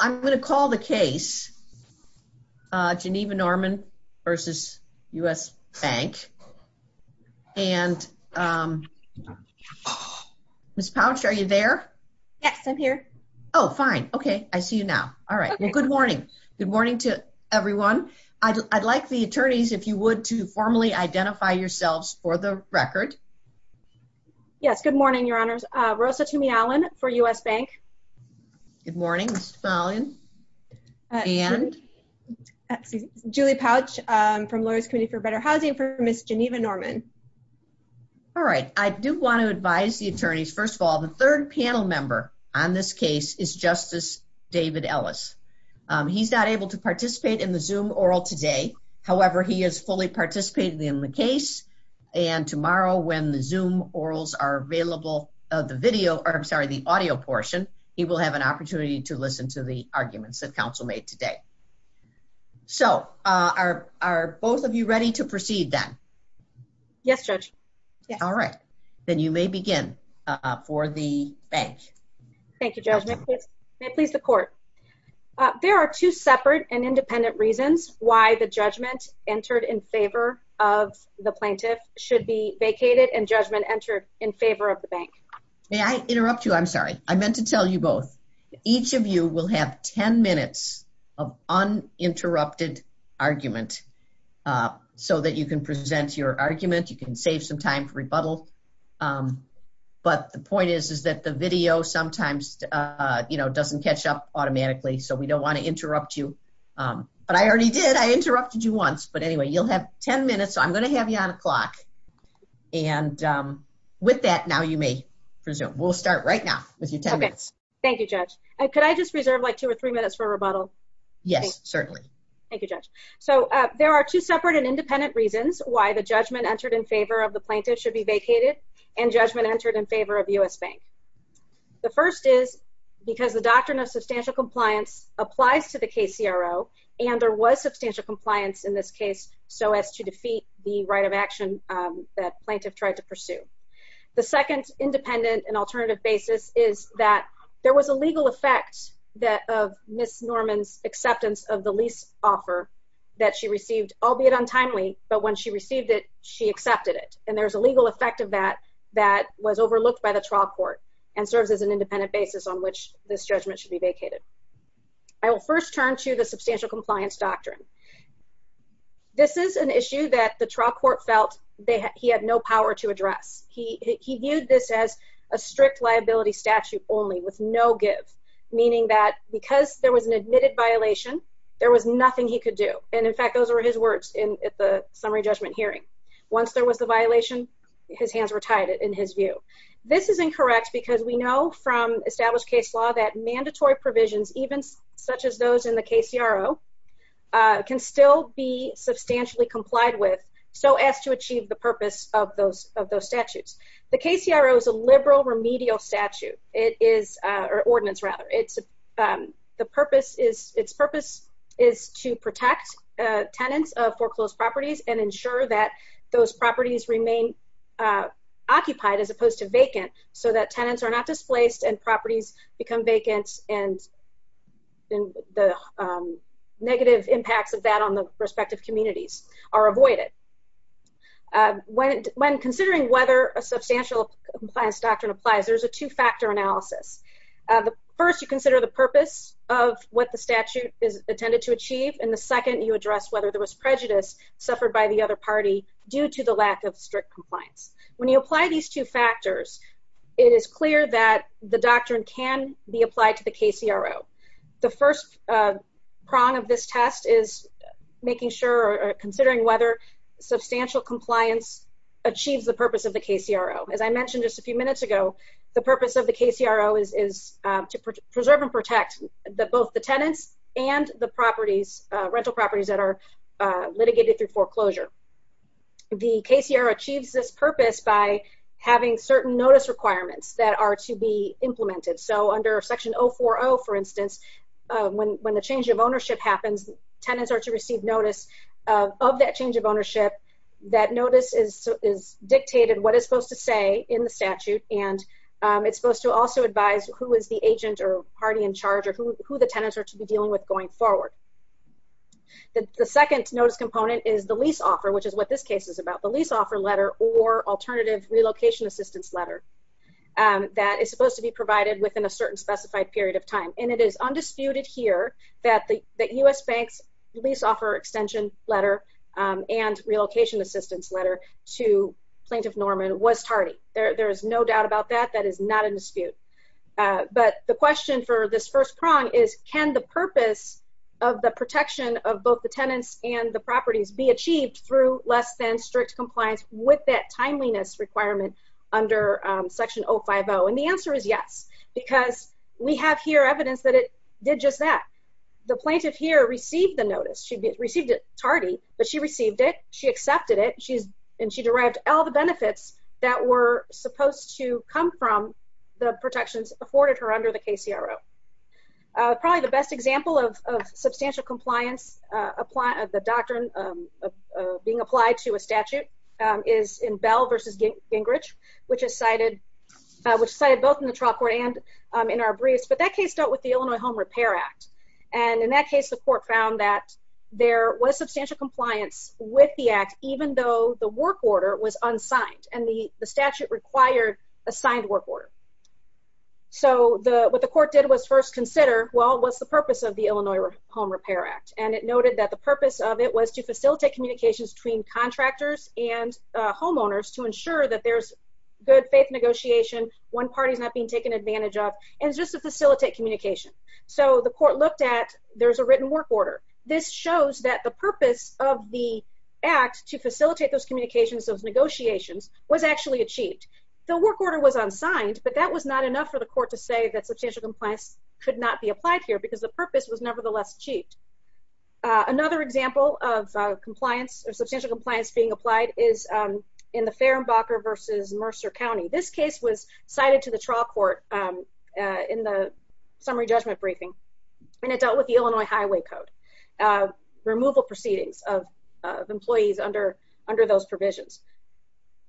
I'm going to call the case Geneva-Norman v. U.S. Bank, and Ms. Pouch, are you there? Yes, I'm here. Oh, fine. Okay. I see you now. All right. Well, good morning. Good morning to everyone. I'd like the attorneys, if you would, to formally identify yourselves for the record. Yes. Good morning, Your Honors. Good morning, Ms. Tumey-Allen. And? Julie Pouch, from Lawyers' Committee for Better Housing, for Ms. Geneva-Norman. All right. I do want to advise the attorneys, first of all, the third panel member on this case is Justice David Ellis. He's not able to participate in the Zoom oral today, however, he has fully participated in the case, and tomorrow when the Zoom orals are available, the video, or I'm sorry, the arguments that counsel made today. So are both of you ready to proceed, then? Yes, Judge. Yes. All right. Then you may begin for the bank. Thank you, Judge. May it please the court. There are two separate and independent reasons why the judgment entered in favor of the plaintiff should be vacated and judgment entered in favor of the bank. May I interrupt you? I'm sorry. I meant to tell you both, each of you will have 10 minutes of uninterrupted argument so that you can present your argument, you can save some time for rebuttal. But the point is, is that the video sometimes, you know, doesn't catch up automatically, so we don't want to interrupt you. But I already did, I interrupted you once. But anyway, you'll have 10 minutes, so I'm going to have you on a clock. And with that, now you may resume. We'll start right now with your 10 minutes. Okay. Thank you, Judge. And could I just reserve like two or three minutes for rebuttal? Yes, certainly. Thank you, Judge. So there are two separate and independent reasons why the judgment entered in favor of the plaintiff should be vacated and judgment entered in favor of U.S. Bank. The first is because the doctrine of substantial compliance applies to the KCRO and there was tried to pursue. The second independent and alternative basis is that there was a legal effect of Ms. Norman's acceptance of the lease offer that she received, albeit untimely, but when she received it, she accepted it. And there's a legal effect of that that was overlooked by the trial court and serves as an independent basis on which this judgment should be vacated. I will first turn to the substantial compliance doctrine. This is an issue that the trial court felt he had no power to address. He viewed this as a strict liability statute only with no give, meaning that because there was an admitted violation, there was nothing he could do. And in fact, those were his words at the summary judgment hearing. Once there was the violation, his hands were tied in his view. This is incorrect because we know from established case law that mandatory provisions, even such as those in the KCRO, can still be substantially complied with so as to achieve the purpose of those statutes. The KCRO is a liberal remedial statute, or ordinance rather. Its purpose is to protect tenants of foreclosed properties and ensure that those properties remain occupied as opposed to vacant so that tenants are not displaced and properties become the negative impacts of that on the respective communities are avoided. When considering whether a substantial compliance doctrine applies, there's a two-factor analysis. First, you consider the purpose of what the statute is intended to achieve, and the second, you address whether there was prejudice suffered by the other party due to the lack of strict compliance. When you apply these two factors, it is clear that the doctrine can be applied to the KCRO. The first prong of this test is making sure or considering whether substantial compliance achieves the purpose of the KCRO. As I mentioned just a few minutes ago, the purpose of the KCRO is to preserve and protect both the tenants and the rental properties that are litigated through foreclosure. The KCRO achieves this purpose by having certain notice requirements that are to be implemented. Under Section 040, for instance, when the change of ownership happens, tenants are to receive notice of that change of ownership. That notice is dictated what it's supposed to say in the statute, and it's supposed to also advise who is the agent or party in charge or who the tenants are to be dealing with going forward. The second notice component is the lease offer, which is what this case is about, the lease offer letter or alternative relocation assistance letter that is supposed to be provided with within a certain specified period of time. It is undisputed here that the U.S. Bank's lease offer extension letter and relocation assistance letter to Plaintiff Norman was tardy. There is no doubt about that. That is not a dispute. The question for this first prong is, can the purpose of the protection of both the tenants and the properties be achieved through less than strict compliance with that timeliness requirement under Section 050? And the answer is yes, because we have here evidence that it did just that. The plaintiff here received the notice. She received it tardy, but she received it, she accepted it, and she derived all the benefits that were supposed to come from the protections afforded her under the KCRO. Probably the best example of substantial compliance of the doctrine being applied to a statute is in Bell v. Gingrich, which is cited both in the trial court and in our briefs. But that case dealt with the Illinois Home Repair Act, and in that case, the court found that there was substantial compliance with the act even though the work order was unsigned and the statute required a signed work order. So what the court did was first consider, well, what's the purpose of the Illinois Home Repair Act? And it noted that the purpose of it was to facilitate communications between contractors and homeowners to ensure that there's good faith negotiation, one party's not being taken advantage of, and just to facilitate communication. So the court looked at, there's a written work order. This shows that the purpose of the act to facilitate those communications, those negotiations, was actually achieved. The work order was unsigned, but that was not enough for the court to say that substantial compliance could not be applied here because the purpose was nevertheless achieved. Another example of compliance or substantial compliance being applied is in the Fehrenbacher v. Mercer County. This case was cited to the trial court in the summary judgment briefing, and it dealt with the Illinois Highway Code, removal proceedings of employees under those provisions.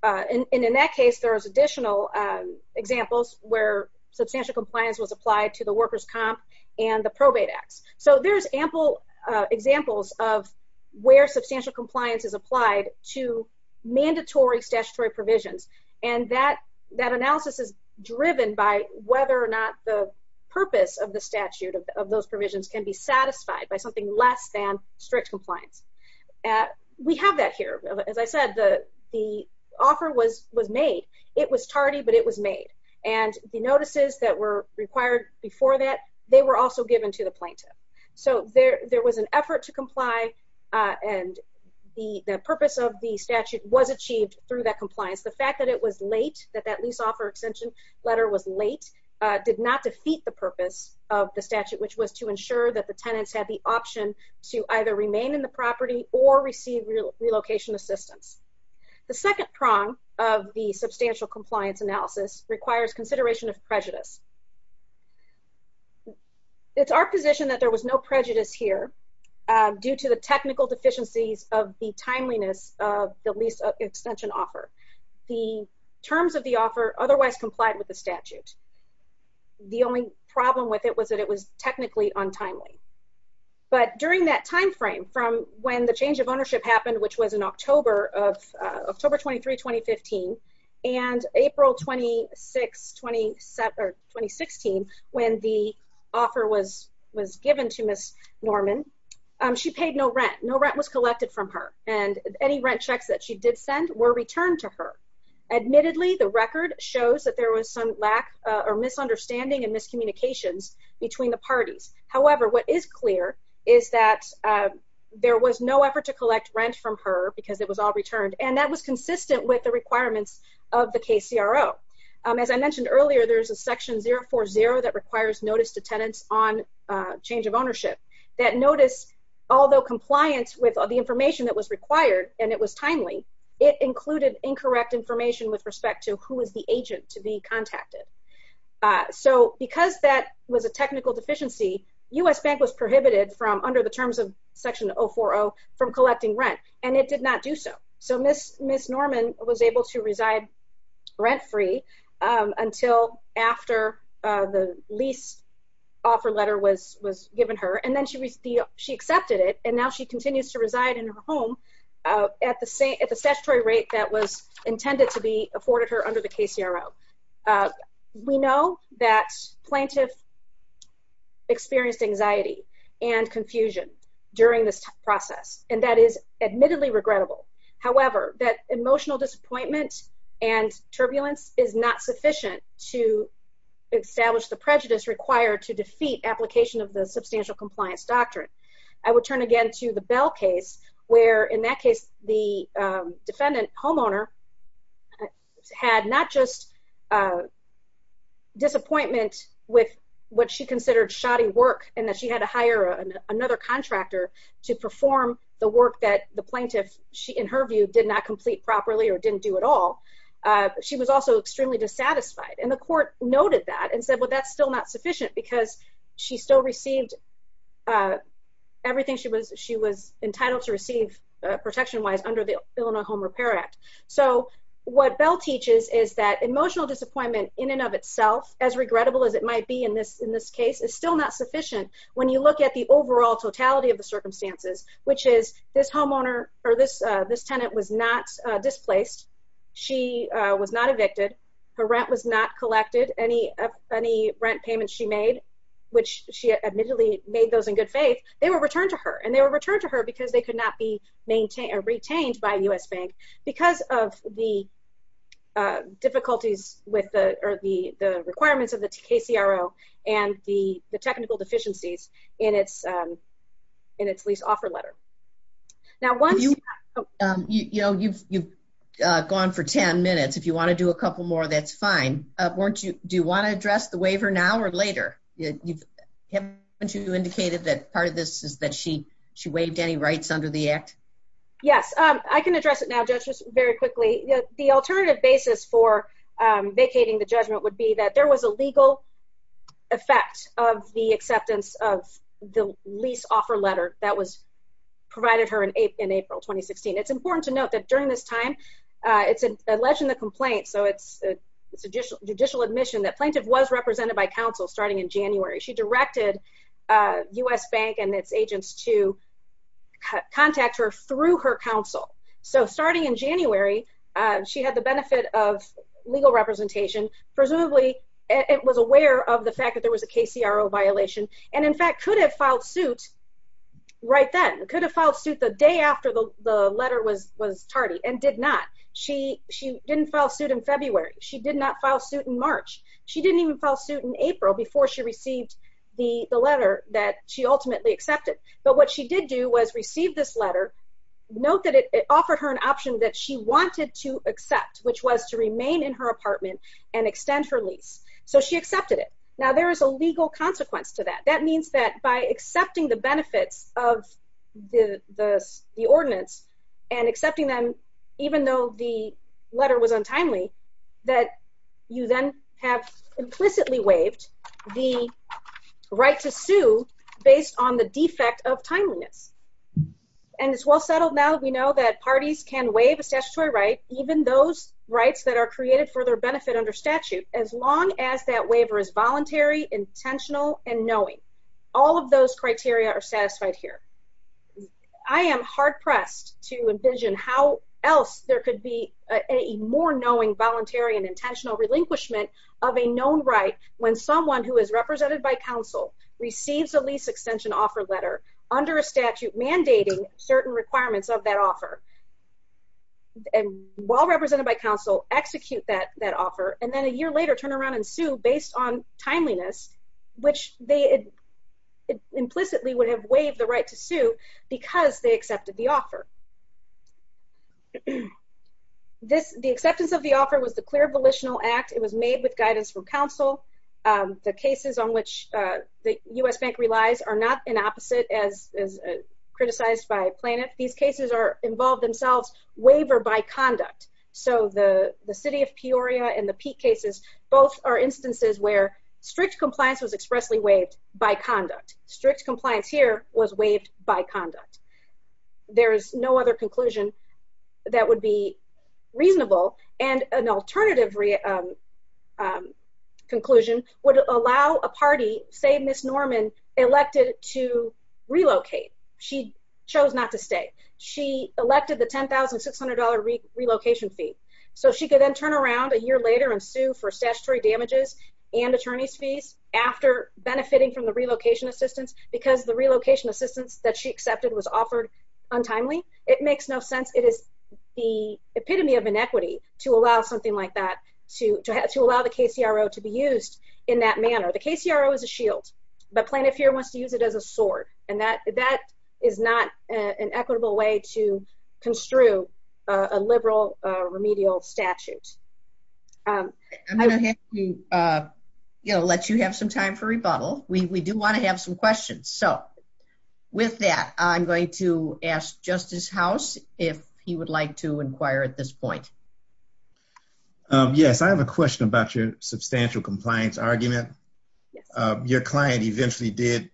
And in that case, there was additional examples where substantial compliance was applied to the workers' comp and the probate acts. So there's ample examples of where substantial compliance is applied to mandatory statutory provisions, and that analysis is driven by whether or not the purpose of the statute of those provisions can be satisfied by something less than strict compliance. We have that here. As I said, the offer was made. It was tardy, but it was made. And the notices that were required before that, they were also given to the plaintiff. So there was an effort to comply, and the purpose of the statute was achieved through that compliance. The fact that it was late, that that lease offer extension letter was late, did not defeat the purpose of the statute, which was to ensure that the tenants had the option to either remain in the property or receive relocation assistance. The second prong of the substantial compliance analysis requires consideration of prejudice. It's our position that there was no prejudice here due to the technical deficiencies of the timeliness of the lease extension offer. The terms of the offer otherwise complied with the statute. The only problem with it was that it was technically untimely. But during that time frame, from when the change of ownership happened, which was in October of, October 23, 2015, and April 26, 2016, when the offer was given to Ms. Norman, she paid no rent. No rent was collected from her, and any rent checks that she did send were returned to her. Admittedly, the record shows that there was some lack or misunderstanding and miscommunications between the parties. However, what is clear is that there was no effort to collect rent from her because it was all returned, and that was consistent with the requirements of the KCRO. As I mentioned earlier, there's a section 040 that requires notice to tenants on change of ownership. That notice, although compliant with the information that was required and it was timely, it included incorrect information with respect to who is the agent to be contacted. So, because that was a technical deficiency, U.S. Bank was prohibited from, under the terms of section 040, from collecting rent, and it did not do so. So, Ms. Norman was able to reside rent-free until after the lease offer letter was given her, and then she accepted it, and now she continues to reside in her home at the statutory rate that was intended to be afforded her under the KCRO. We know that plaintiff experienced anxiety and confusion during this process, and that is admittedly regrettable. However, that emotional disappointment and turbulence is not sufficient to establish the prejudice required to defeat application of the substantial compliance doctrine. I would turn again to the Bell case, where, in that case, the defendant, homeowner, had not just disappointment with what she considered shoddy work and that she had to hire another contractor to perform the work that the plaintiff, in her view, did not complete properly or didn't do at all. She was also extremely dissatisfied, and the court noted that and said, well, that's still not sufficient because she still received everything she was entitled to receive protection-wise under the Illinois Home Repair Act. So, what Bell teaches is that emotional disappointment, in and of itself, as regrettable as it might be in this case, is still not sufficient when you look at the overall totality of the circumstances, which is this tenant was not displaced, she was not evicted, her rent was not collected, any rent payments she made, which she admittedly made those in good faith, they were returned to her, and they were returned to her because they could not be retained by a U.S. bank because of the difficulties or the requirements of the KCRO and the technical deficiencies in its lease offer letter. Now, once- You know, you've gone for 10 minutes. If you want to do a couple more, that's fine. Do you want to address the waiver now or later? Haven't you indicated that part of this is that she waived any rights under the Act? Yes. I can address it now, Judge, just very quickly. The alternative basis for vacating the judgment would be that there was a legal effect of the acceptance of the lease offer letter that was provided her in April 2016. It's important to note that during this time, it's alleged in the complaint, so it's a judicial admission that plaintiff was represented by counsel starting in January. She directed U.S. bank and its agents to contact her through her counsel. So starting in January, she had the benefit of legal representation, presumably it was aware of the fact that there was a KCRO violation, and in fact, could have filed suit right then. Could have filed suit the day after the letter was tardy, and did not. She didn't file suit in February. She did not file suit in March. She didn't even file suit in April before she received the letter that she ultimately accepted. But what she did do was receive this letter, note that it offered her an option that she wanted to accept, which was to remain in her apartment and extend her lease. So she accepted it. Now, there is a legal consequence to that. That means that by accepting the benefits of the ordinance, and accepting them even though the letter was untimely, that you then have implicitly waived the right to sue based on the defect of timeliness. And it's well settled now that we know that parties can waive a statutory right, even those rights that are created for their benefit under statute, as long as that waiver is voluntary, intentional, and knowing. All of those criteria are satisfied here. I am hard-pressed to envision how else there could be a more knowing, voluntary, and intentional relinquishment of a known right when someone who is represented by counsel receives a lease extension offer letter under a statute mandating certain requirements of that offer, and while represented by counsel, execute that offer, and then a year later turn around and sue based on timeliness, which they implicitly would have waived the right to sue because they accepted the offer. The acceptance of the offer was the clear volitional act. It was made with guidance from counsel. The cases on which the U.S. Bank relies are not an opposite as criticized by Planet. These cases involve themselves waiver by conduct. So the city of Peoria and the Peak cases, both are instances where strict compliance was expressly waived by conduct. Strict compliance here was waived by conduct. There is no other conclusion that would be reasonable, and an alternative conclusion would allow a party, say Ms. Norman, elected to relocate. She chose not to stay. She elected the $10,600 relocation fee, so she could then turn around a year later and sue for statutory damages and attorney's fees after benefiting from the relocation assistance because the relocation assistance that she accepted was offered untimely. It makes no sense. It is the epitome of inequity to allow something like that, to allow the KCRO to be used in that manner. The KCRO is a shield, but Planet Fear wants to use it as a sword, and that is not an equitable way to construe a liberal remedial statute. I'm going to have to let you have some time for rebuttal. We do want to have some questions. So with that, I'm going to ask Justice House if he would like to inquire at this point. Yes, I have a question about your substantial compliance argument. Your client eventually did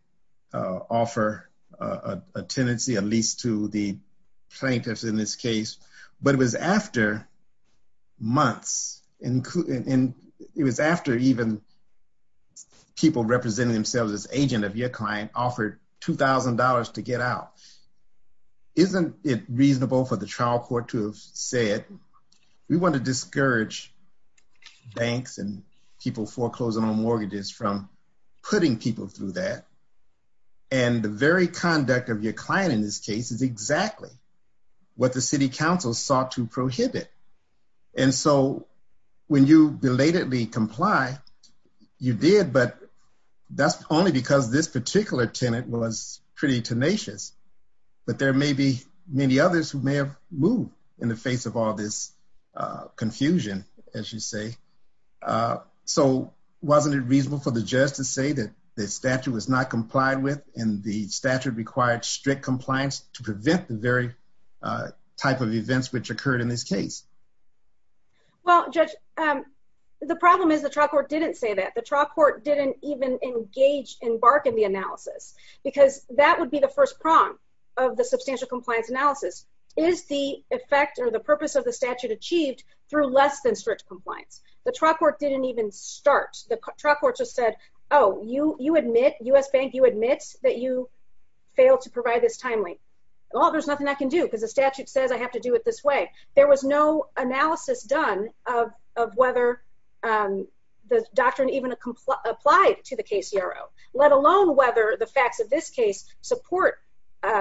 offer a tenancy, a lease to the plaintiffs in this case, but it was after months, and it was after even people representing themselves as agent of your client offered $2,000 to get out. Isn't it reasonable for the trial court to have said, we want to discourage banks and people foreclosing on mortgages from putting people through that? And the very conduct of your client in this case is exactly what the city council sought to prohibit. And so when you belatedly comply, you did, but that's only because this particular tenant was pretty tenacious, but there may be many others who may have moved in the face of all this confusion, as you say. So wasn't it reasonable for the judge to say that the statute was not complied with and the statute required strict compliance to prevent the very type of events which occurred in this case? Well, Judge, the problem is the trial court didn't say that. The trial court didn't even engage, embark in the analysis, because that would be the first prong of the substantial compliance analysis. Is the effect or the purpose of the statute achieved through less than strict compliance? The trial court didn't even start. The trial court just said, oh, you admit, U.S. Bank, you admit that you failed to provide this timely. Well, there's nothing I can do because the statute says I have to do it this way. There was no analysis done of whether the doctrine even applied to the KCRO, let alone whether the facts of this case support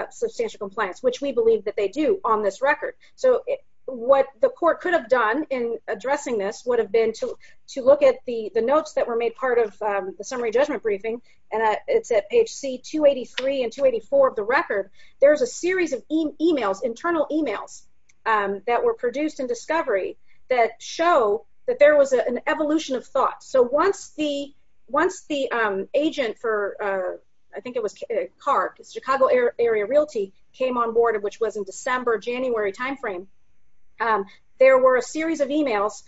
substantial compliance, which we believe that they do on this record. So what the court could have done in addressing this would have been to look at the notes that were made part of the summary judgment briefing, and it's at page C283 and 284 of the record. There's a series of emails, internal emails, that were produced in discovery that show that there was an evolution of thought. So once the agent for, I think it was CART, Chicago Area Realty, came on board, which was in December, January timeframe, there were a series of emails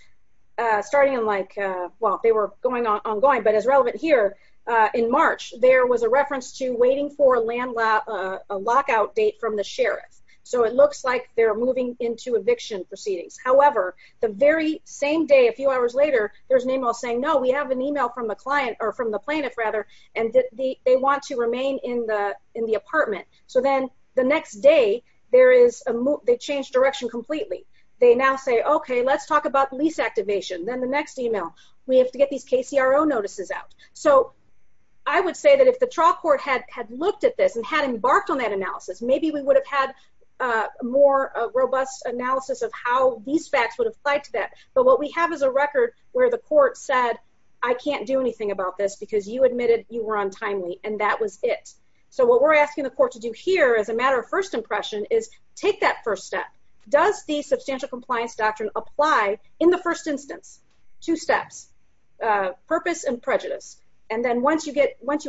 starting in like, well, they were ongoing, but as relevant here, in March, there was a reference to waiting for a lockout date from the sheriff. So it looks like they're moving into eviction proceedings. However, the very same day, a few hours later, there's an email saying, no, we have an email from the client, or from the plaintiff, rather, and they want to remain in the apartment. So then the next day, they changed direction completely. They now say, okay, let's talk about lease activation. Then the next email, we have to get these KCRO notices out. So I would say that if the trial court had looked at this and had embarked on that analysis, maybe we would have had a more robust analysis of how these facts would apply to that. But what we have is a record where the court said, I can't do anything about this because you admitted you were on timely, and that was it. So what we're asking the court to do here, as a matter of first impression, is take that first step. Does the substantial compliance doctrine apply in the first instance? Two steps, purpose and prejudice. And then once you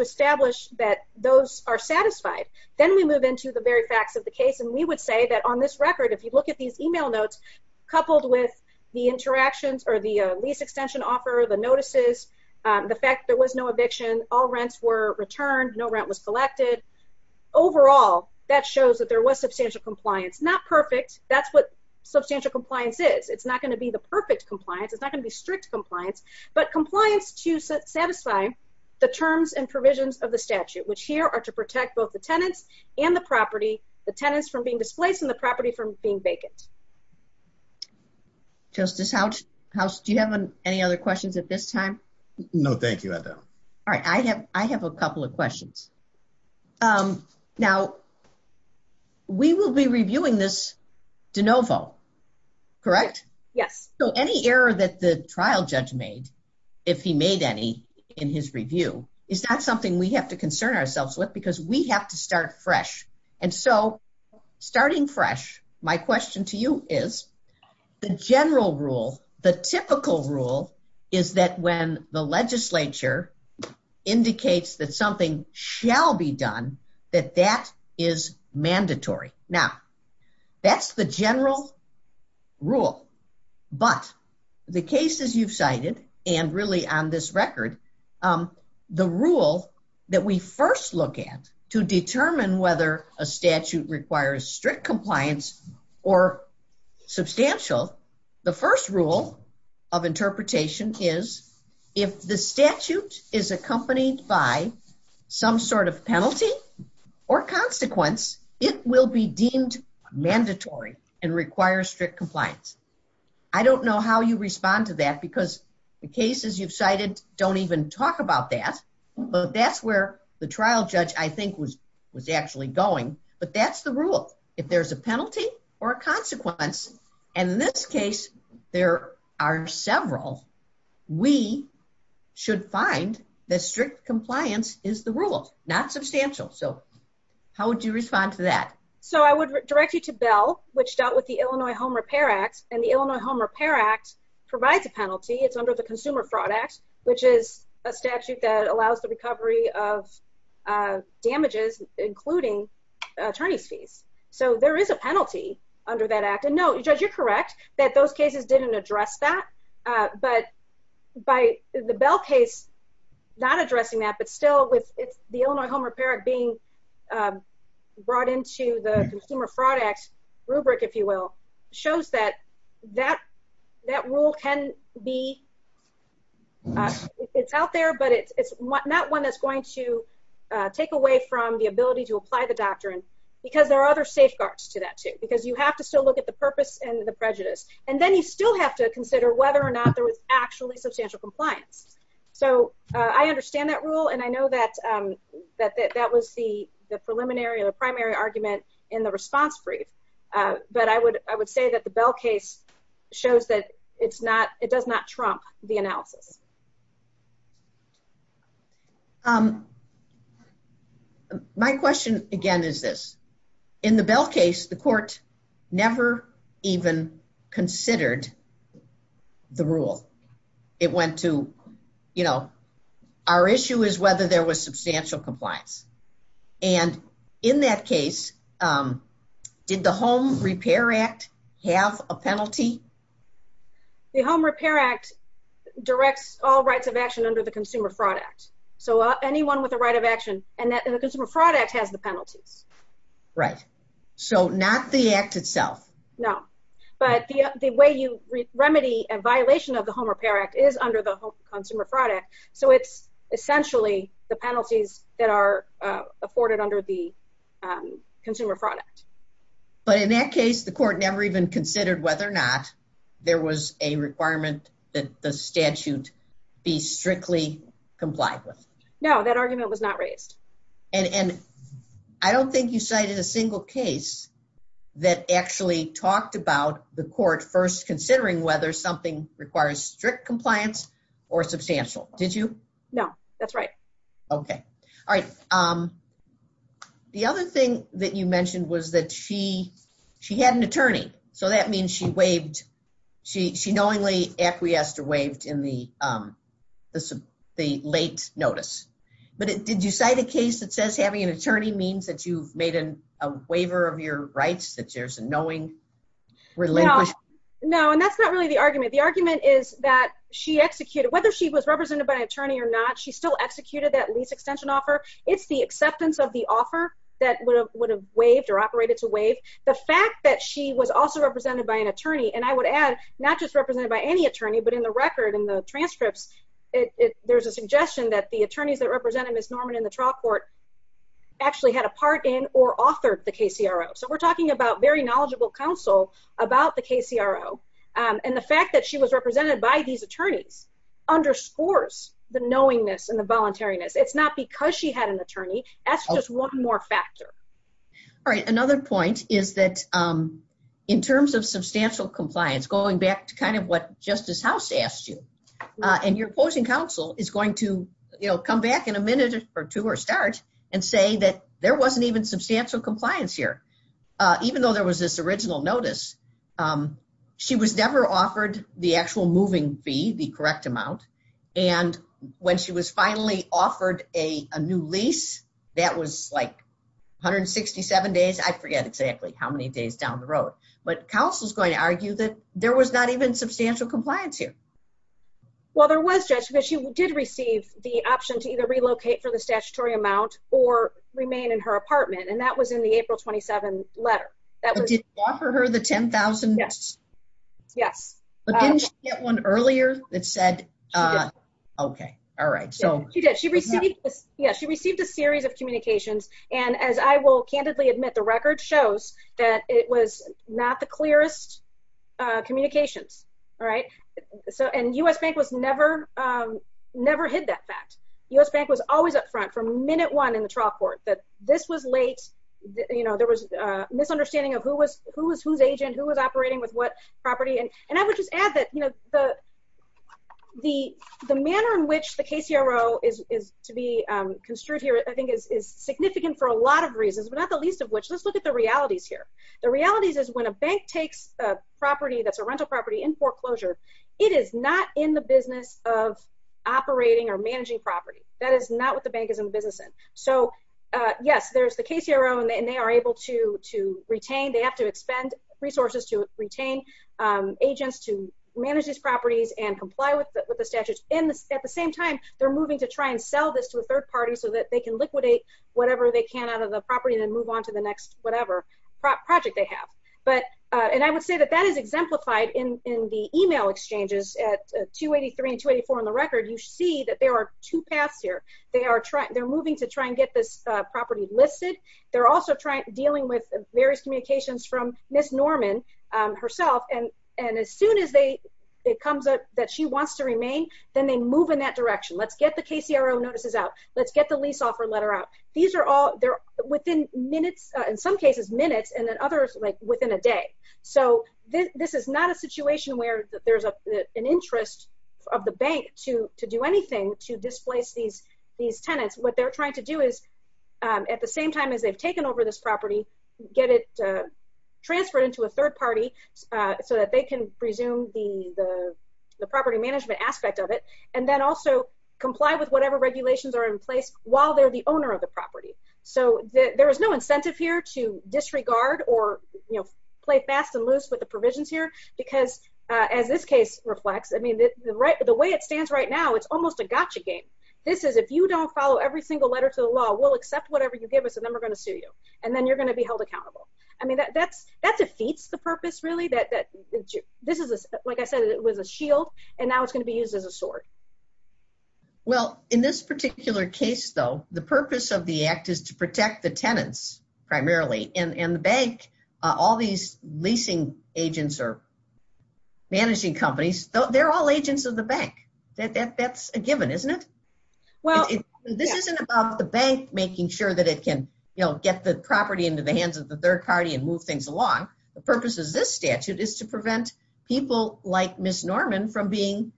establish that those are satisfied, then we move into the very facts of the case. And we would say that on this record, if you look at these email notes, coupled with the interactions or the lease extension offer, the notices, the fact there was no eviction, all rents were returned, no rent was collected, overall, that shows that there was substantial compliance. Not perfect, that's what substantial compliance is. It's not going to be the perfect compliance. It's not going to be strict compliance. But compliance to satisfy the terms and provisions of the statute, which here are to protect both the tenants and the property, the tenants from being displaced and the property from being vacant. Justice House, do you have any other questions at this time? No, thank you, I don't. All right, I have a couple of questions. Now, we will be reviewing this de novo, correct? Yes. So any error that the trial judge made, if he made any in his review, is that something we have to concern ourselves with? Because we have to start fresh. And so starting fresh, my question to you is, the general rule, the typical rule, is that when the legislature indicates that something shall be done, that that is mandatory. Now, that's the general rule. But the cases you've cited, and really on this record, the rule that we first look at to determine whether a statute requires strict compliance or substantial, the first rule of interpretation is, if the statute is accompanied by some sort of penalty or consequence, it will be deemed mandatory and require strict compliance. I don't know how you respond to that, because the cases you've cited don't even talk about that, but that's where the trial judge, I think, was actually going. But that's the rule. If there's a penalty or a consequence, and in this case, there are several, we should find that strict compliance is the rule, not substantial. So how would you respond to that? So I would direct you to Bell, which dealt with the Illinois Home Repair Act. And the Illinois Home Repair Act provides a penalty. It's under the Consumer Fraud Act, which is a statute that allows the recovery of damages, including attorney's fees. So there is a penalty under that act. And no, Judge, you're correct that those cases didn't address that. But by the Bell case, not addressing that, but still, with the Illinois Home Repair Act being brought into the Consumer Fraud Act rubric, if you will, shows that that rule can be, it's out there, but it's not one that's going to take away from the ability to apply the doctrine, because there are other safeguards to that, too, because you have to still look at the purpose and the prejudice. And then you still have to consider whether or not there was actually substantial compliance. So I understand that rule, and I know that that was the preliminary and the primary argument in the response brief. But I would say that the Bell case shows that it's not, it does not trump the analysis. My question, again, is this. In the Bell case, the court never even considered the rule. It went to, you know, our issue is whether there was substantial compliance. And in that case, did the Home Repair Act have a penalty? The Home Repair Act directs all rights of action under the Consumer Fraud Act. So anyone with a right of action, and the Consumer Fraud Act has the penalties. Right. So not the act itself. No. But the way you remedy a violation of the Home Repair Act is under the Consumer Fraud Act. So it's essentially the penalties that are afforded under the Consumer Fraud Act. But in that case, the court never even considered whether or not there was a requirement that the statute be strictly complied with. No, that argument was not raised. And I don't think you cited a single case that actually talked about the court first, considering whether something requires strict compliance or substantial. Did you? No, that's right. Okay. All right. The other thing that you mentioned was that she had an attorney. So that means she waived, she knowingly acquiesced or waived in the late notice. But did you cite a case that says having an attorney means that you've made a waiver of your rights, that there's a knowing relinquished? No, and that's not really the argument. The argument is that she executed, whether she was represented by an attorney or not, she still executed that lease extension offer. It's the acceptance of the offer that would have waived or operated to waive. The fact that she was also represented by an attorney, and I would add, not just represented by any attorney, but in the record, in the transcripts, there's a suggestion that the attorneys that represented Ms. Norman in the trial court actually had a part in or authored the KCRO. So we're talking about very knowledgeable counsel about the KCRO. And the fact that she was represented by these attorneys underscores the knowingness and the voluntariness. It's not because she had an attorney, that's just one more factor. All right, another point is that in terms of substantial compliance, going back to kind of what Justice House asked you, and your opposing counsel is going to, you know, come back in a minute or two or start and say that there wasn't even substantial compliance here. Even though there was this original notice, she was never offered the actual moving fee, the correct amount, and when she was finally offered a new lease, that was like 167 days. I forget exactly how many days down the road. But counsel's going to argue that there was not even substantial compliance here. Well, there was, Judge, but she did receive the option to either relocate for the statutory amount or remain in her apartment. And that was in the April 27 letter. That was- But did you offer her the $10,000? Yes. Yes. But didn't she get one earlier that said, okay, all right, so- Yes, she did. She received a series of communications, and as I will candidly admit, the record shows that it was not the clearest communications, all right? And U.S. Bank was never, never hid that fact. U.S. Bank was always up front from minute one in the trial court that this was late, you know, there was a misunderstanding of who was whose agent, who was operating with what property. And I would just add that, you know, the manner in which the KCRO is to be construed here I think is significant for a lot of reasons, but not the least of which. Let's look at the realities here. The realities is when a bank takes a property that's a rental property in foreclosure, it is not in the business of operating or managing property. That is not what the bank is in business in. So, yes, there's the KCRO, and they are able to retain. They have to expend resources to retain agents to manage these properties and comply with the statutes. And at the same time, they're moving to try and sell this to a third party so that they can liquidate whatever they can out of the property and then move on to the next whatever project they have. But, and I would say that that is exemplified in the email exchanges at 283 and 284 on the record, you see that there are two paths here. They are trying, they're moving to try and get this property listed. They're also dealing with various communications from Ms. Norman herself. And as soon as they, it comes up that she wants to remain, then they move in that direction. Let's get the KCRO notices out. Let's get the lease offer letter out. These are all, they're within minutes, in some cases minutes, and then others like within a day. So, this is not a situation where there's an interest of the bank to do anything to displace these tenants. What they're trying to do is, at the same time as they've taken over this property, get it transferred into a third party so that they can presume the property management aspect of it, and then also comply with whatever regulations are in place while they're the owner of the property. So, there is no incentive here to disregard or, you know, play fast and loose with the provisions here, because as this case reflects, I mean, the way it stands right now, it's almost a gotcha game. This is, if you don't follow every single letter to the law, we'll accept whatever you give us, and then we're going to sue you, and then you're going to be held accountable. I mean, that defeats the purpose, really, that this is, like I said, it was a shield, and now it's going to be used as a sword. Well, in this particular case, though, the purpose of the act is to protect the tenants, primarily. And the bank, all these leasing agents or managing companies, they're all agents of the bank. That's a given, isn't it? Well, this isn't about the bank making sure that it can, you know, get the property into the hands of the third party and move things along. The purpose of this statute is to prevent people like Ms. Norman from being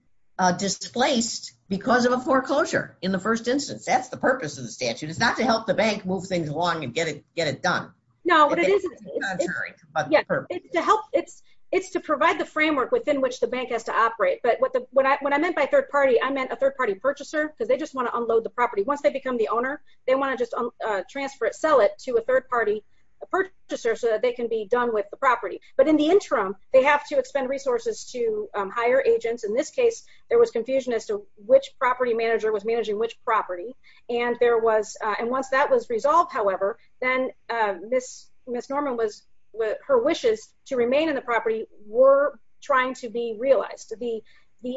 displaced because of a foreclosure in the first instance. That's the purpose of the statute. It's not to help the bank move things along and get it done. No, but it is to help, it's to provide the framework within which the bank has to operate. But what I meant by third party, I meant a third party purchaser, because they just want to unload the property. Once they become the owner, they want to just transfer it, sell it to a third party purchaser so that they can be done with the property. But in the interim, they have to expend resources to hire agents. In this case, there was confusion as to which property manager was managing which property. And there was, and once that was resolved, however, then Ms. Norman was, her wishes to remain in the property were trying to be realized. The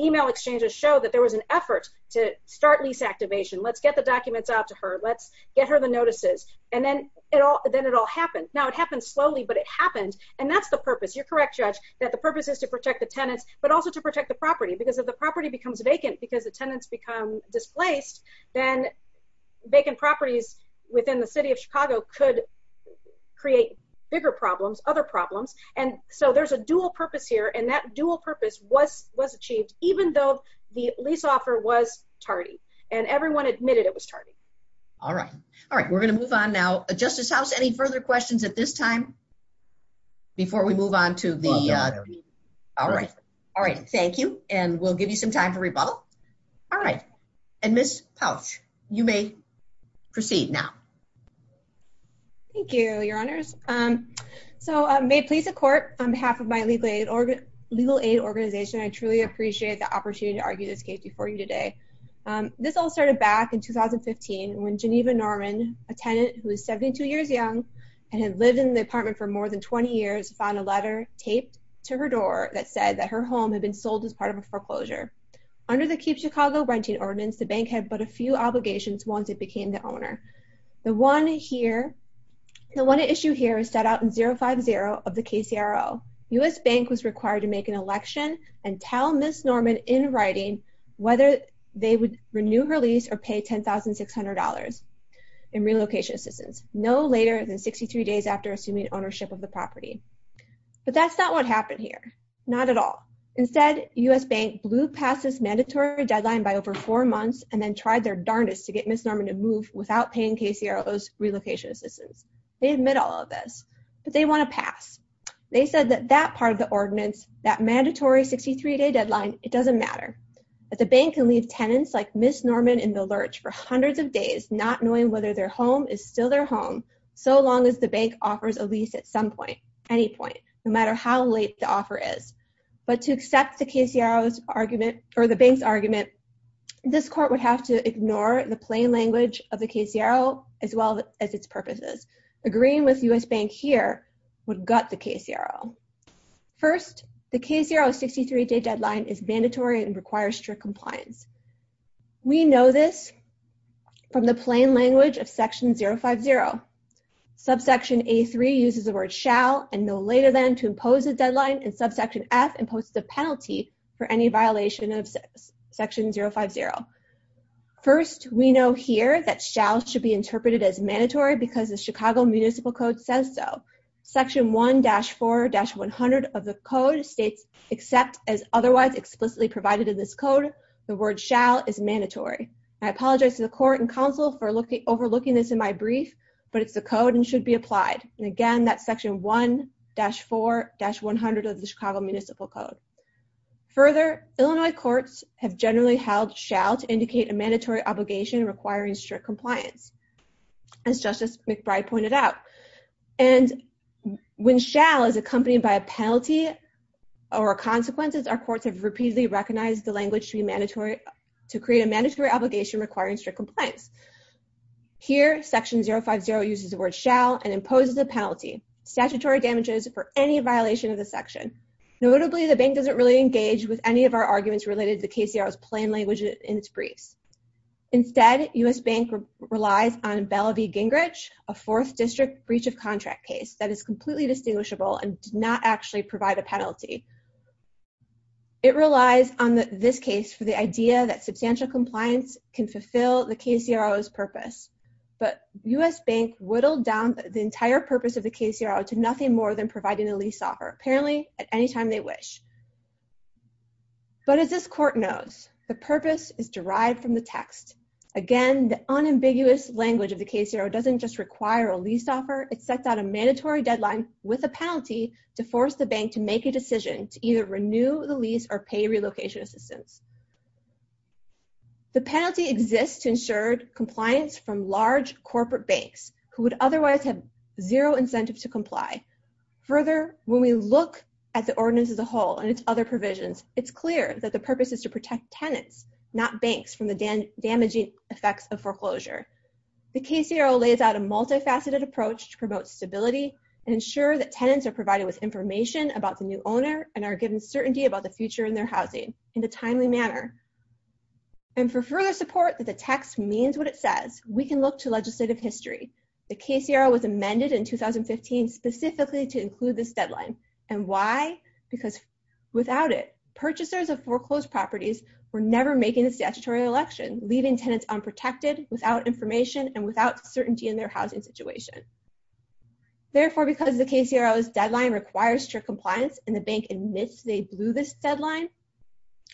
email exchanges show that there was an effort to start lease activation. Let's get the documents out to her. Let's get her the notices. And then it all happened. Now, it happened slowly, but it happened. And that's the purpose. You're correct, Judge, that the purpose is to protect the tenants, but also to protect the property because if the property becomes vacant because the tenants become displaced, then vacant properties within the city of Chicago could create bigger problems, other problems. And so there's a dual purpose here. And that dual purpose was achieved, even though the lease offer was tardy. And everyone admitted it was tardy. All right. All right. We're going to move on now. Justice House, any further questions at this time before we move on to the? All right. All right. Thank you. And we'll give you some time to rebuttal. All right. And Ms. Pouch, you may proceed now. Thank you, Your Honors. So may it please the Court, on behalf of my legal aid organization, I truly appreciate the opportunity to argue this case before you today. This all started back in 2015 when Geneva Norman, a tenant who was 72 years young and had lived in the apartment for more than 20 years, found a letter taped to her door that said that her home had been sold as part of a foreclosure. Under the Keep Chicago Renting Ordinance, the bank had but a few obligations once it became the owner. The one here, the one issue here is set out in 050 of the KCRO. U.S. Bank was required to make an election and tell Ms. Norman in writing whether they would renew her lease or pay $10,600 in relocation assistance no later than 63 days after assuming ownership of the property. But that's not what happened here. Not at all. Instead, U.S. Bank blew past this mandatory deadline by over four months and then tried their darndest to get Ms. Norman to move without paying KCRO's relocation assistance. They admit all of this, but they want to pass. They said that that part of the ordinance, that mandatory 63-day deadline, it doesn't matter. But the bank can leave tenants like Ms. Norman in the lurch for hundreds of days, not knowing whether their home is still their home so long as the bank offers a lease at some point, any point, no matter how late the offer is. But to accept the KCRO's argument, or the bank's argument, this court would have to ignore the plain language of the KCRO as well as its purposes. Agreeing with U.S. Bank here would gut the KCRO. First, the KCRO's 63-day deadline is mandatory and requires strict compliance. We know this from the plain language of Section 050. Subsection A3 uses the word shall and no later than to impose a deadline and subsection F imposes a penalty for any violation of Section 050. First, we know here that shall should be interpreted as mandatory because the Chicago Municipal Code says so. Section 1-4-100 of the code states, except as otherwise explicitly provided in this code, the word shall is mandatory. I apologize to the court and counsel for overlooking this in my brief, but it's the code and should be applied. And again, that's Section 1-4-100 of the Chicago Municipal Code. Further, Illinois courts have generally held shall to indicate a mandatory obligation requiring strict compliance. As Justice McBride pointed out. And when shall is accompanied by a penalty or consequences, our courts have repeatedly recognized the language to be mandatory, to create a mandatory obligation requiring strict compliance. Here, Section 050 uses the word shall and imposes a penalty, statutory damages for any violation of the section. Notably, the bank doesn't really engage with any of our arguments related to the KCR's plain language in its briefs. Instead, U.S. Bank relies on Belle v. Gingrich, a fourth district breach of contract case that is completely distinguishable and does not actually provide a penalty. It relies on this case for the idea that substantial compliance can fulfill the KCRO's purpose. But U.S. Bank whittled down the entire purpose of the KCRO to nothing more than providing a lease offer, apparently at any time they wish. But as this court knows, the purpose is derived from the text. Again, the unambiguous language of the KCRO doesn't just require a lease offer, it sets out a mandatory deadline with a penalty to force the bank to make a decision to either renew the lease or pay relocation assistance. The penalty exists to ensure compliance from large corporate banks who would otherwise have zero incentive to comply. Further, when we look at the ordinance as a whole and its other provisions, it's clear that the purpose is to protect tenants, not banks from the damaging effects of foreclosure. The KCRO lays out a multifaceted approach to promote stability and ensure that tenants are provided with information about the new owner and are given certainty about the future in their housing in a timely manner. And for further support that the text means what it says, we can look to legislative history. The KCRO was amended in 2015 specifically to include this deadline. And why? Because without it, purchasers of foreclosed properties were never making the statutory election, leaving tenants unprotected, without information, and without certainty in their housing situation. Therefore, because the KCRO's deadline requires strict compliance and the bank admits they blew this deadline,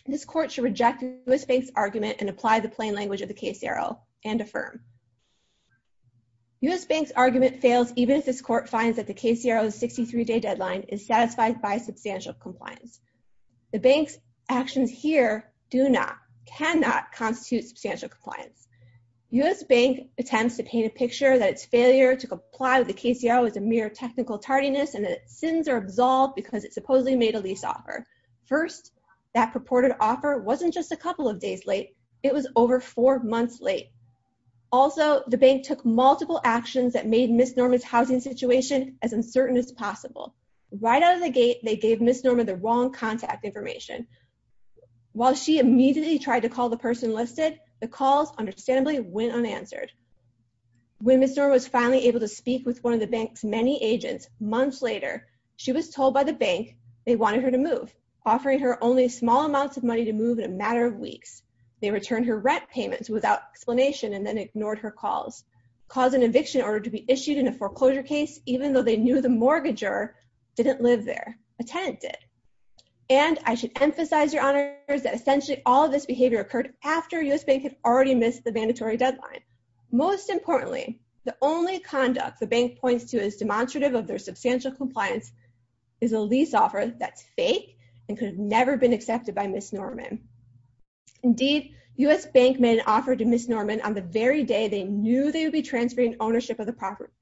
this court should reject the KCRO's argument and apply the plain language of the KCRO and affirm. US Bank's argument fails even if this court finds that the KCRO's 63-day deadline is satisfied by substantial compliance. The bank's actions here do not, cannot constitute substantial compliance. US Bank attempts to paint a picture that its failure to comply with the KCRO is a mere technical tardiness and that its sins are absolved because it supposedly made a lease offer. First, that purported offer wasn't just a couple of days late, it was over four months late. Also, the bank took multiple actions that made Ms. Norman's housing situation as uncertain as possible. Right out of the gate, they gave Ms. Norman the wrong contact information. While she immediately tried to call the person listed, the calls understandably went unanswered. When Ms. Norman was finally able to speak with one of the bank's many agents months later, she was told by the bank they wanted her to move. Offering her only small amounts of money to move in a matter of weeks. They returned her rent payments without explanation and then ignored her calls. Cause an eviction order to be issued in a foreclosure case, even though they knew the mortgager didn't live there, a tenant did. And I should emphasize, Your Honors, that essentially all of this behavior occurred after US Bank had already missed the mandatory deadline. Most importantly, the only conduct the bank points to as demonstrative of their substantial compliance is a lease offer that's fake, and could have never been accepted by Ms. Norman. Indeed, US Bank made an offer to Ms. Norman on the very day they knew they would be transferring ownership of the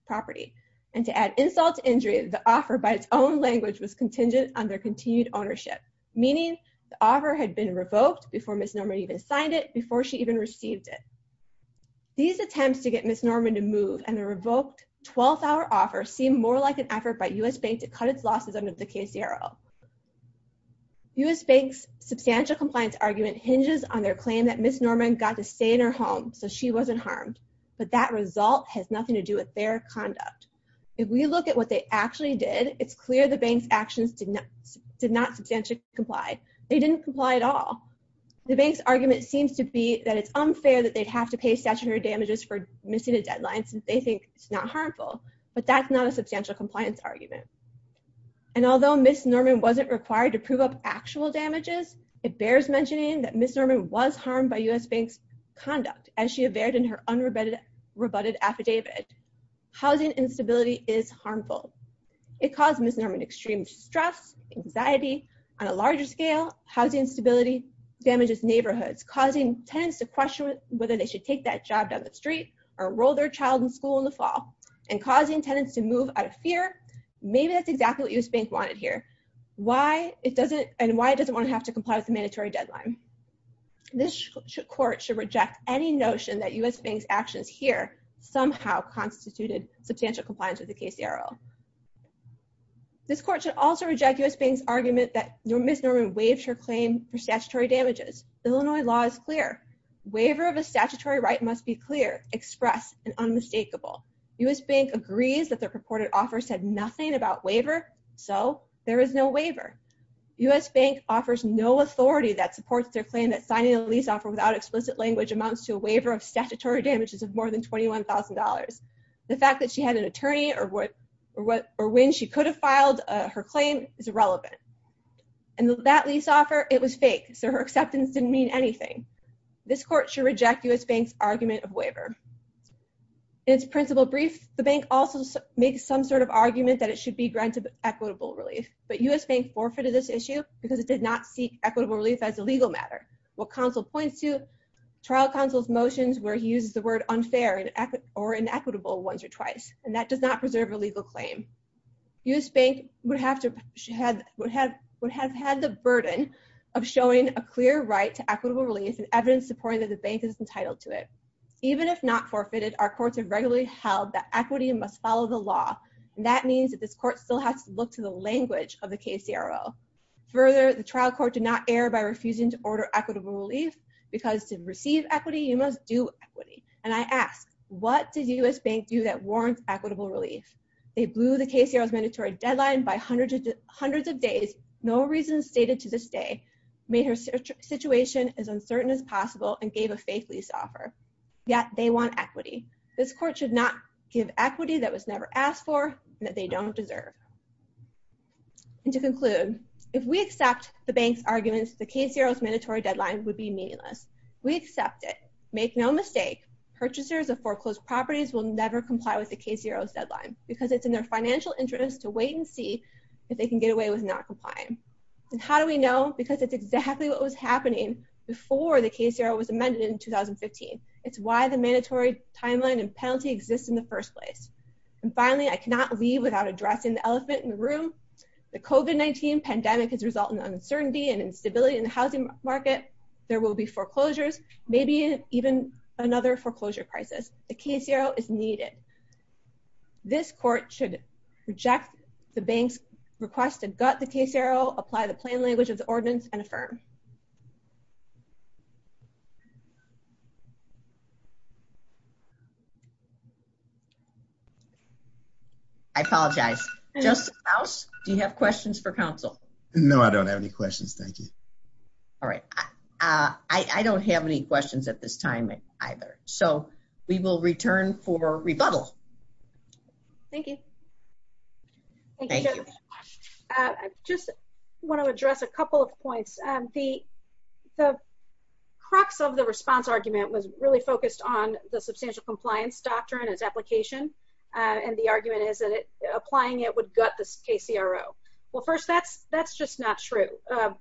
property. And to add insult to injury, the offer by its own language was contingent on their continued ownership. Meaning the offer had been revoked before Ms. Norman even signed it, before she even received it. These attempts to get Ms. Norman to move and the revoked 12-hour offer seemed more like an effort by US Bank to cut its losses under the KCRL. US Bank's substantial compliance argument hinges on their claim that Ms. Norman got to stay in her home so she wasn't harmed, but that result has nothing to do with their conduct. If we look at what they actually did, it's clear the bank's actions did not substantially comply. They didn't comply at all. The bank's argument seems to be that it's unfair that they'd have to pay statutory damages for missing a deadline since they think it's not harmful, but that's not a substantial compliance argument. And although Ms. Norman wasn't required to prove up actual damages, it bears mentioning that Ms. Norman was harmed by US Bank's conduct as she averted in her unrebutted affidavit. Housing instability is harmful. It caused Ms. Norman extreme stress, anxiety. On a larger scale, housing instability damages neighborhoods, causing tenants to question whether they should take that job down the street or enroll their child in school in the fall, and causing tenants to move out of fear, maybe that's exactly what US Bank wanted here, and why it doesn't want to have to comply with the mandatory deadline. This court should reject any notion that US Bank's actions here somehow constituted substantial compliance with the KCRL. This court should also reject US Bank's argument that Ms. Norman waived her claim for statutory damages. Illinois law is clear. Waiver of a statutory right must be clear, expressed, and unmistakable. US Bank agrees that their purported offer said nothing about waiver, so there is no waiver. US Bank offers no authority that supports their claim that signing a lease offer without explicit language amounts to a waiver of statutory damages of more than $21,000. The fact that she had an attorney or when she could have filed her claim is irrelevant. And that lease offer, it was fake, so her acceptance didn't mean anything. This court should reject US Bank's argument of waiver. In its principle brief, the bank also makes some sort of argument that it should be granted equitable relief. But US Bank forfeited this issue because it did not seek equitable relief as a legal matter. What counsel points to, trial counsel's motions where he uses the word unfair or inequitable once or twice, and that does not preserve a legal claim. US Bank would have had the burden of showing a clear right to equitable relief and evidence supporting that the bank is entitled to it. Even if not forfeited, our courts have regularly held that equity must follow the law. And that means that this court still has to look to the language of the KCRO. Further, the trial court did not err by refusing to order equitable relief because to receive equity, you must do equity. And I ask, what did US Bank do that warrants equitable relief? They blew the KCRO's mandatory deadline by hundreds of days, no reason stated to this day, made her situation as uncertain as possible, and gave a fake lease offer. Yet, they want equity. This court should not give equity that was never asked for and that they don't deserve. And to conclude, if we accept the bank's arguments, the KCRO's mandatory deadline would be meaningless. We accept it. Make no mistake, purchasers of foreclosed properties will never comply with the KCRO's deadline because it's in their financial interest to wait and see if they can get away with not complying. And how do we know? Because it's exactly what was happening before the KCRO was amended in 2015. It's why the mandatory timeline and penalty exists in the first place. And finally, I cannot leave without addressing the elephant in the room. The COVID-19 pandemic has resulted in uncertainty and instability in the housing market. There will be foreclosures, maybe even another foreclosure crisis. The KCRO is needed. This court should reject the bank's request to gut the KCRO, apply the plain language of the ordinance, and affirm. I apologize. Justice Maus, do you have questions for counsel? No, I don't have any questions. Thank you. All right. I don't have any questions at this time either. So we will return for rebuttal. Thank you. Thank you, Judge. I just want to address a couple of points. The crux of the response argument was really focused on the substantial compliance doctrine, its application. And the argument is that applying it would gut the KCRO. Well, first, that's just not true.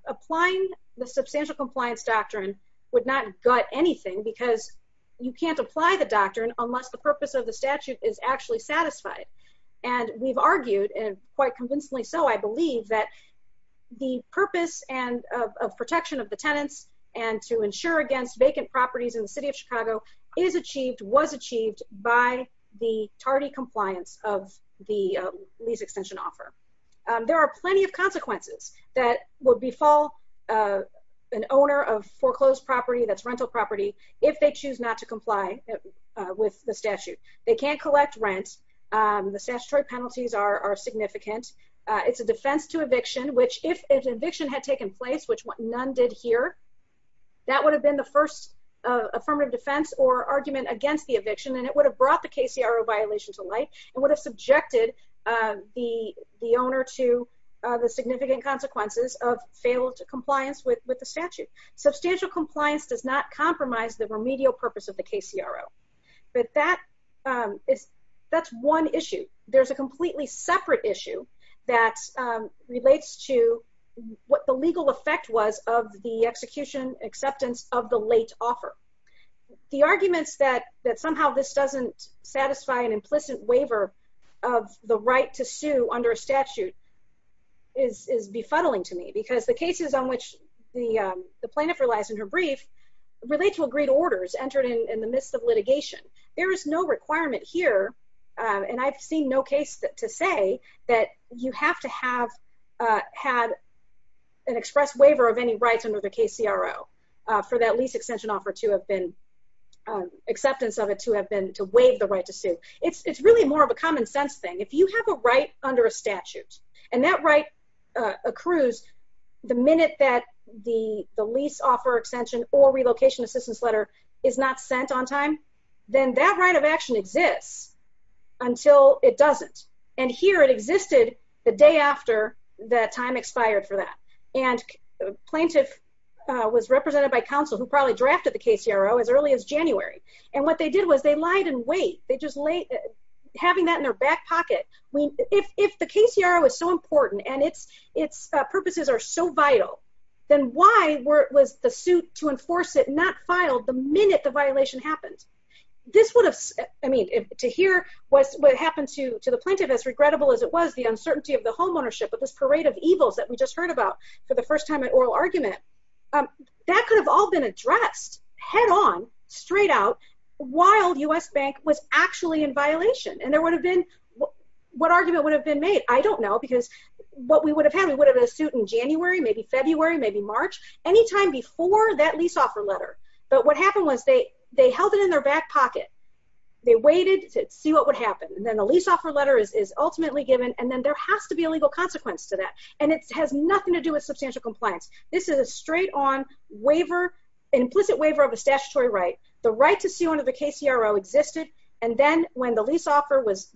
Applying the substantial compliance doctrine would not gut anything because you can't apply the doctrine unless the purpose of the statute is actually satisfied. And we've argued, and quite convincingly so, I believe, that the purpose of protection of the tenants and to insure against vacant properties in the city of Chicago is achieved, was achieved, by the tardy compliance of the lease extension offer. There are plenty of consequences that would befall an owner of foreclosed property, that's rental property, if they choose not to comply with the statute. They can't collect rent. The statutory penalties are significant. It's a defense to eviction, which if an eviction had taken place, which none did here, that would have been the first affirmative defense or argument against the eviction. And it would have brought the KCRO violation to light and would have subjected the owner to the significant consequences of fail to compliance with the statute. Substantial compliance does not compromise the remedial purpose of the KCRO. But that is, that's one issue. There's a completely separate issue that relates to what the legal effect was of the execution acceptance of the late offer. The arguments that somehow this doesn't satisfy an implicit waiver of the right to sue under a statute is befuddling to me. Because the cases on which the plaintiff relies in her brief relate to agreed orders entered in the midst of litigation. There is no requirement here, and I've seen no case to say that you have to have had an express waiver of any rights under the KCRO for that lease extension offer to have been, acceptance of it to have been, to waive the right to sue. It's really more of a common sense thing. If you have a right under a statute, and that right accrues the minute that the lease offer extension or relocation assistance letter is not sent on time, then that right of action exists until it doesn't. And here it existed the day after the time expired for that. And the plaintiff was represented by counsel who probably drafted the KCRO as early as January. And what they did was they lied in wait. They just laid, having that in their back pocket. If the KCRO is so important, and its purposes are so vital, then why was the suit to enforce it not filed the minute the violation happened? This would have, I mean, to hear what happened to the plaintiff, as regrettable as it was, the uncertainty of the home ownership, with this parade of evils that we just heard about for the first time in oral argument, that could have all been addressed head on, straight out, while U.S. Bank was actually in violation. And there would have been, what argument would have been made? I don't know, because what we would have had, we would have had a suit in January, maybe February, maybe March, any time before that lease offer letter. But what happened was they held it in their back pocket. They waited to see what would happen. And then the lease offer letter is ultimately given, and then there has to be a legal consequence to that. And it has nothing to do with substantial compliance. This is a straight-on waiver, implicit waiver of a statutory right. The right to sue under the KCRO existed, and then when the lease offer was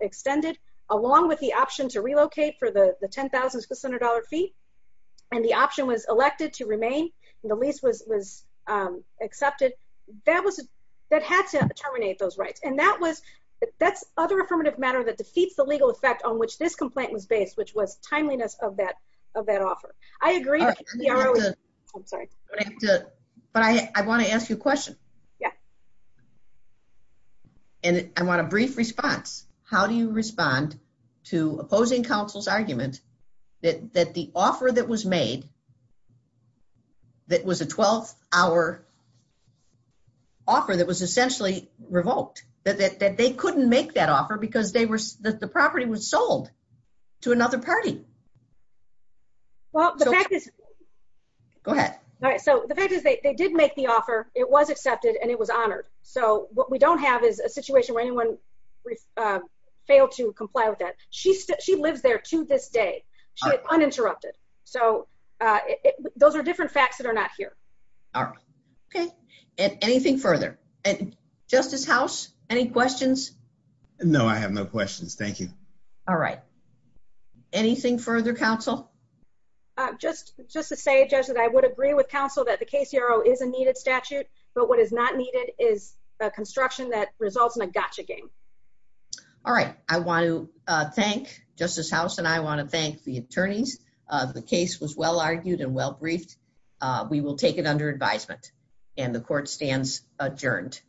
extended, along with the option to relocate for the $10,600 fee, and the option was elected to remain, and the lease was accepted, that was, that had to terminate those rights. And that was, that's other affirmative matter that defeats the legal effect on which this complaint was based, which was timeliness of that offer. I agree that the KCRO is, I'm sorry. But I have to, but I want to ask you a question. Yeah. And I want a brief response. How do you respond to opposing counsel's argument that the offer that was made that was a 12-hour offer that was essentially revoked, that they couldn't make that offer because they were, that the property was sold to another party? Well, the fact is. Go ahead. All right. So the fact is they did make the offer. It was accepted, and it was honored. So what we don't have is a situation where anyone failed to comply with that. She lives there to this day. She is uninterrupted. So it, those are different facts that are not here. All right. Okay. And anything further? And Justice House, any questions? No, I have no questions. Thank you. All right. Anything further, counsel? Just, just to say, Judge, that I would agree with counsel that the KCRO is a needed statute, but what is not needed is a construction that results in a gotcha game. All right. I want to thank Justice House, and I want to thank the attorneys. The case was well argued and well briefed. We will take it under advisement, and the court stands adjourned.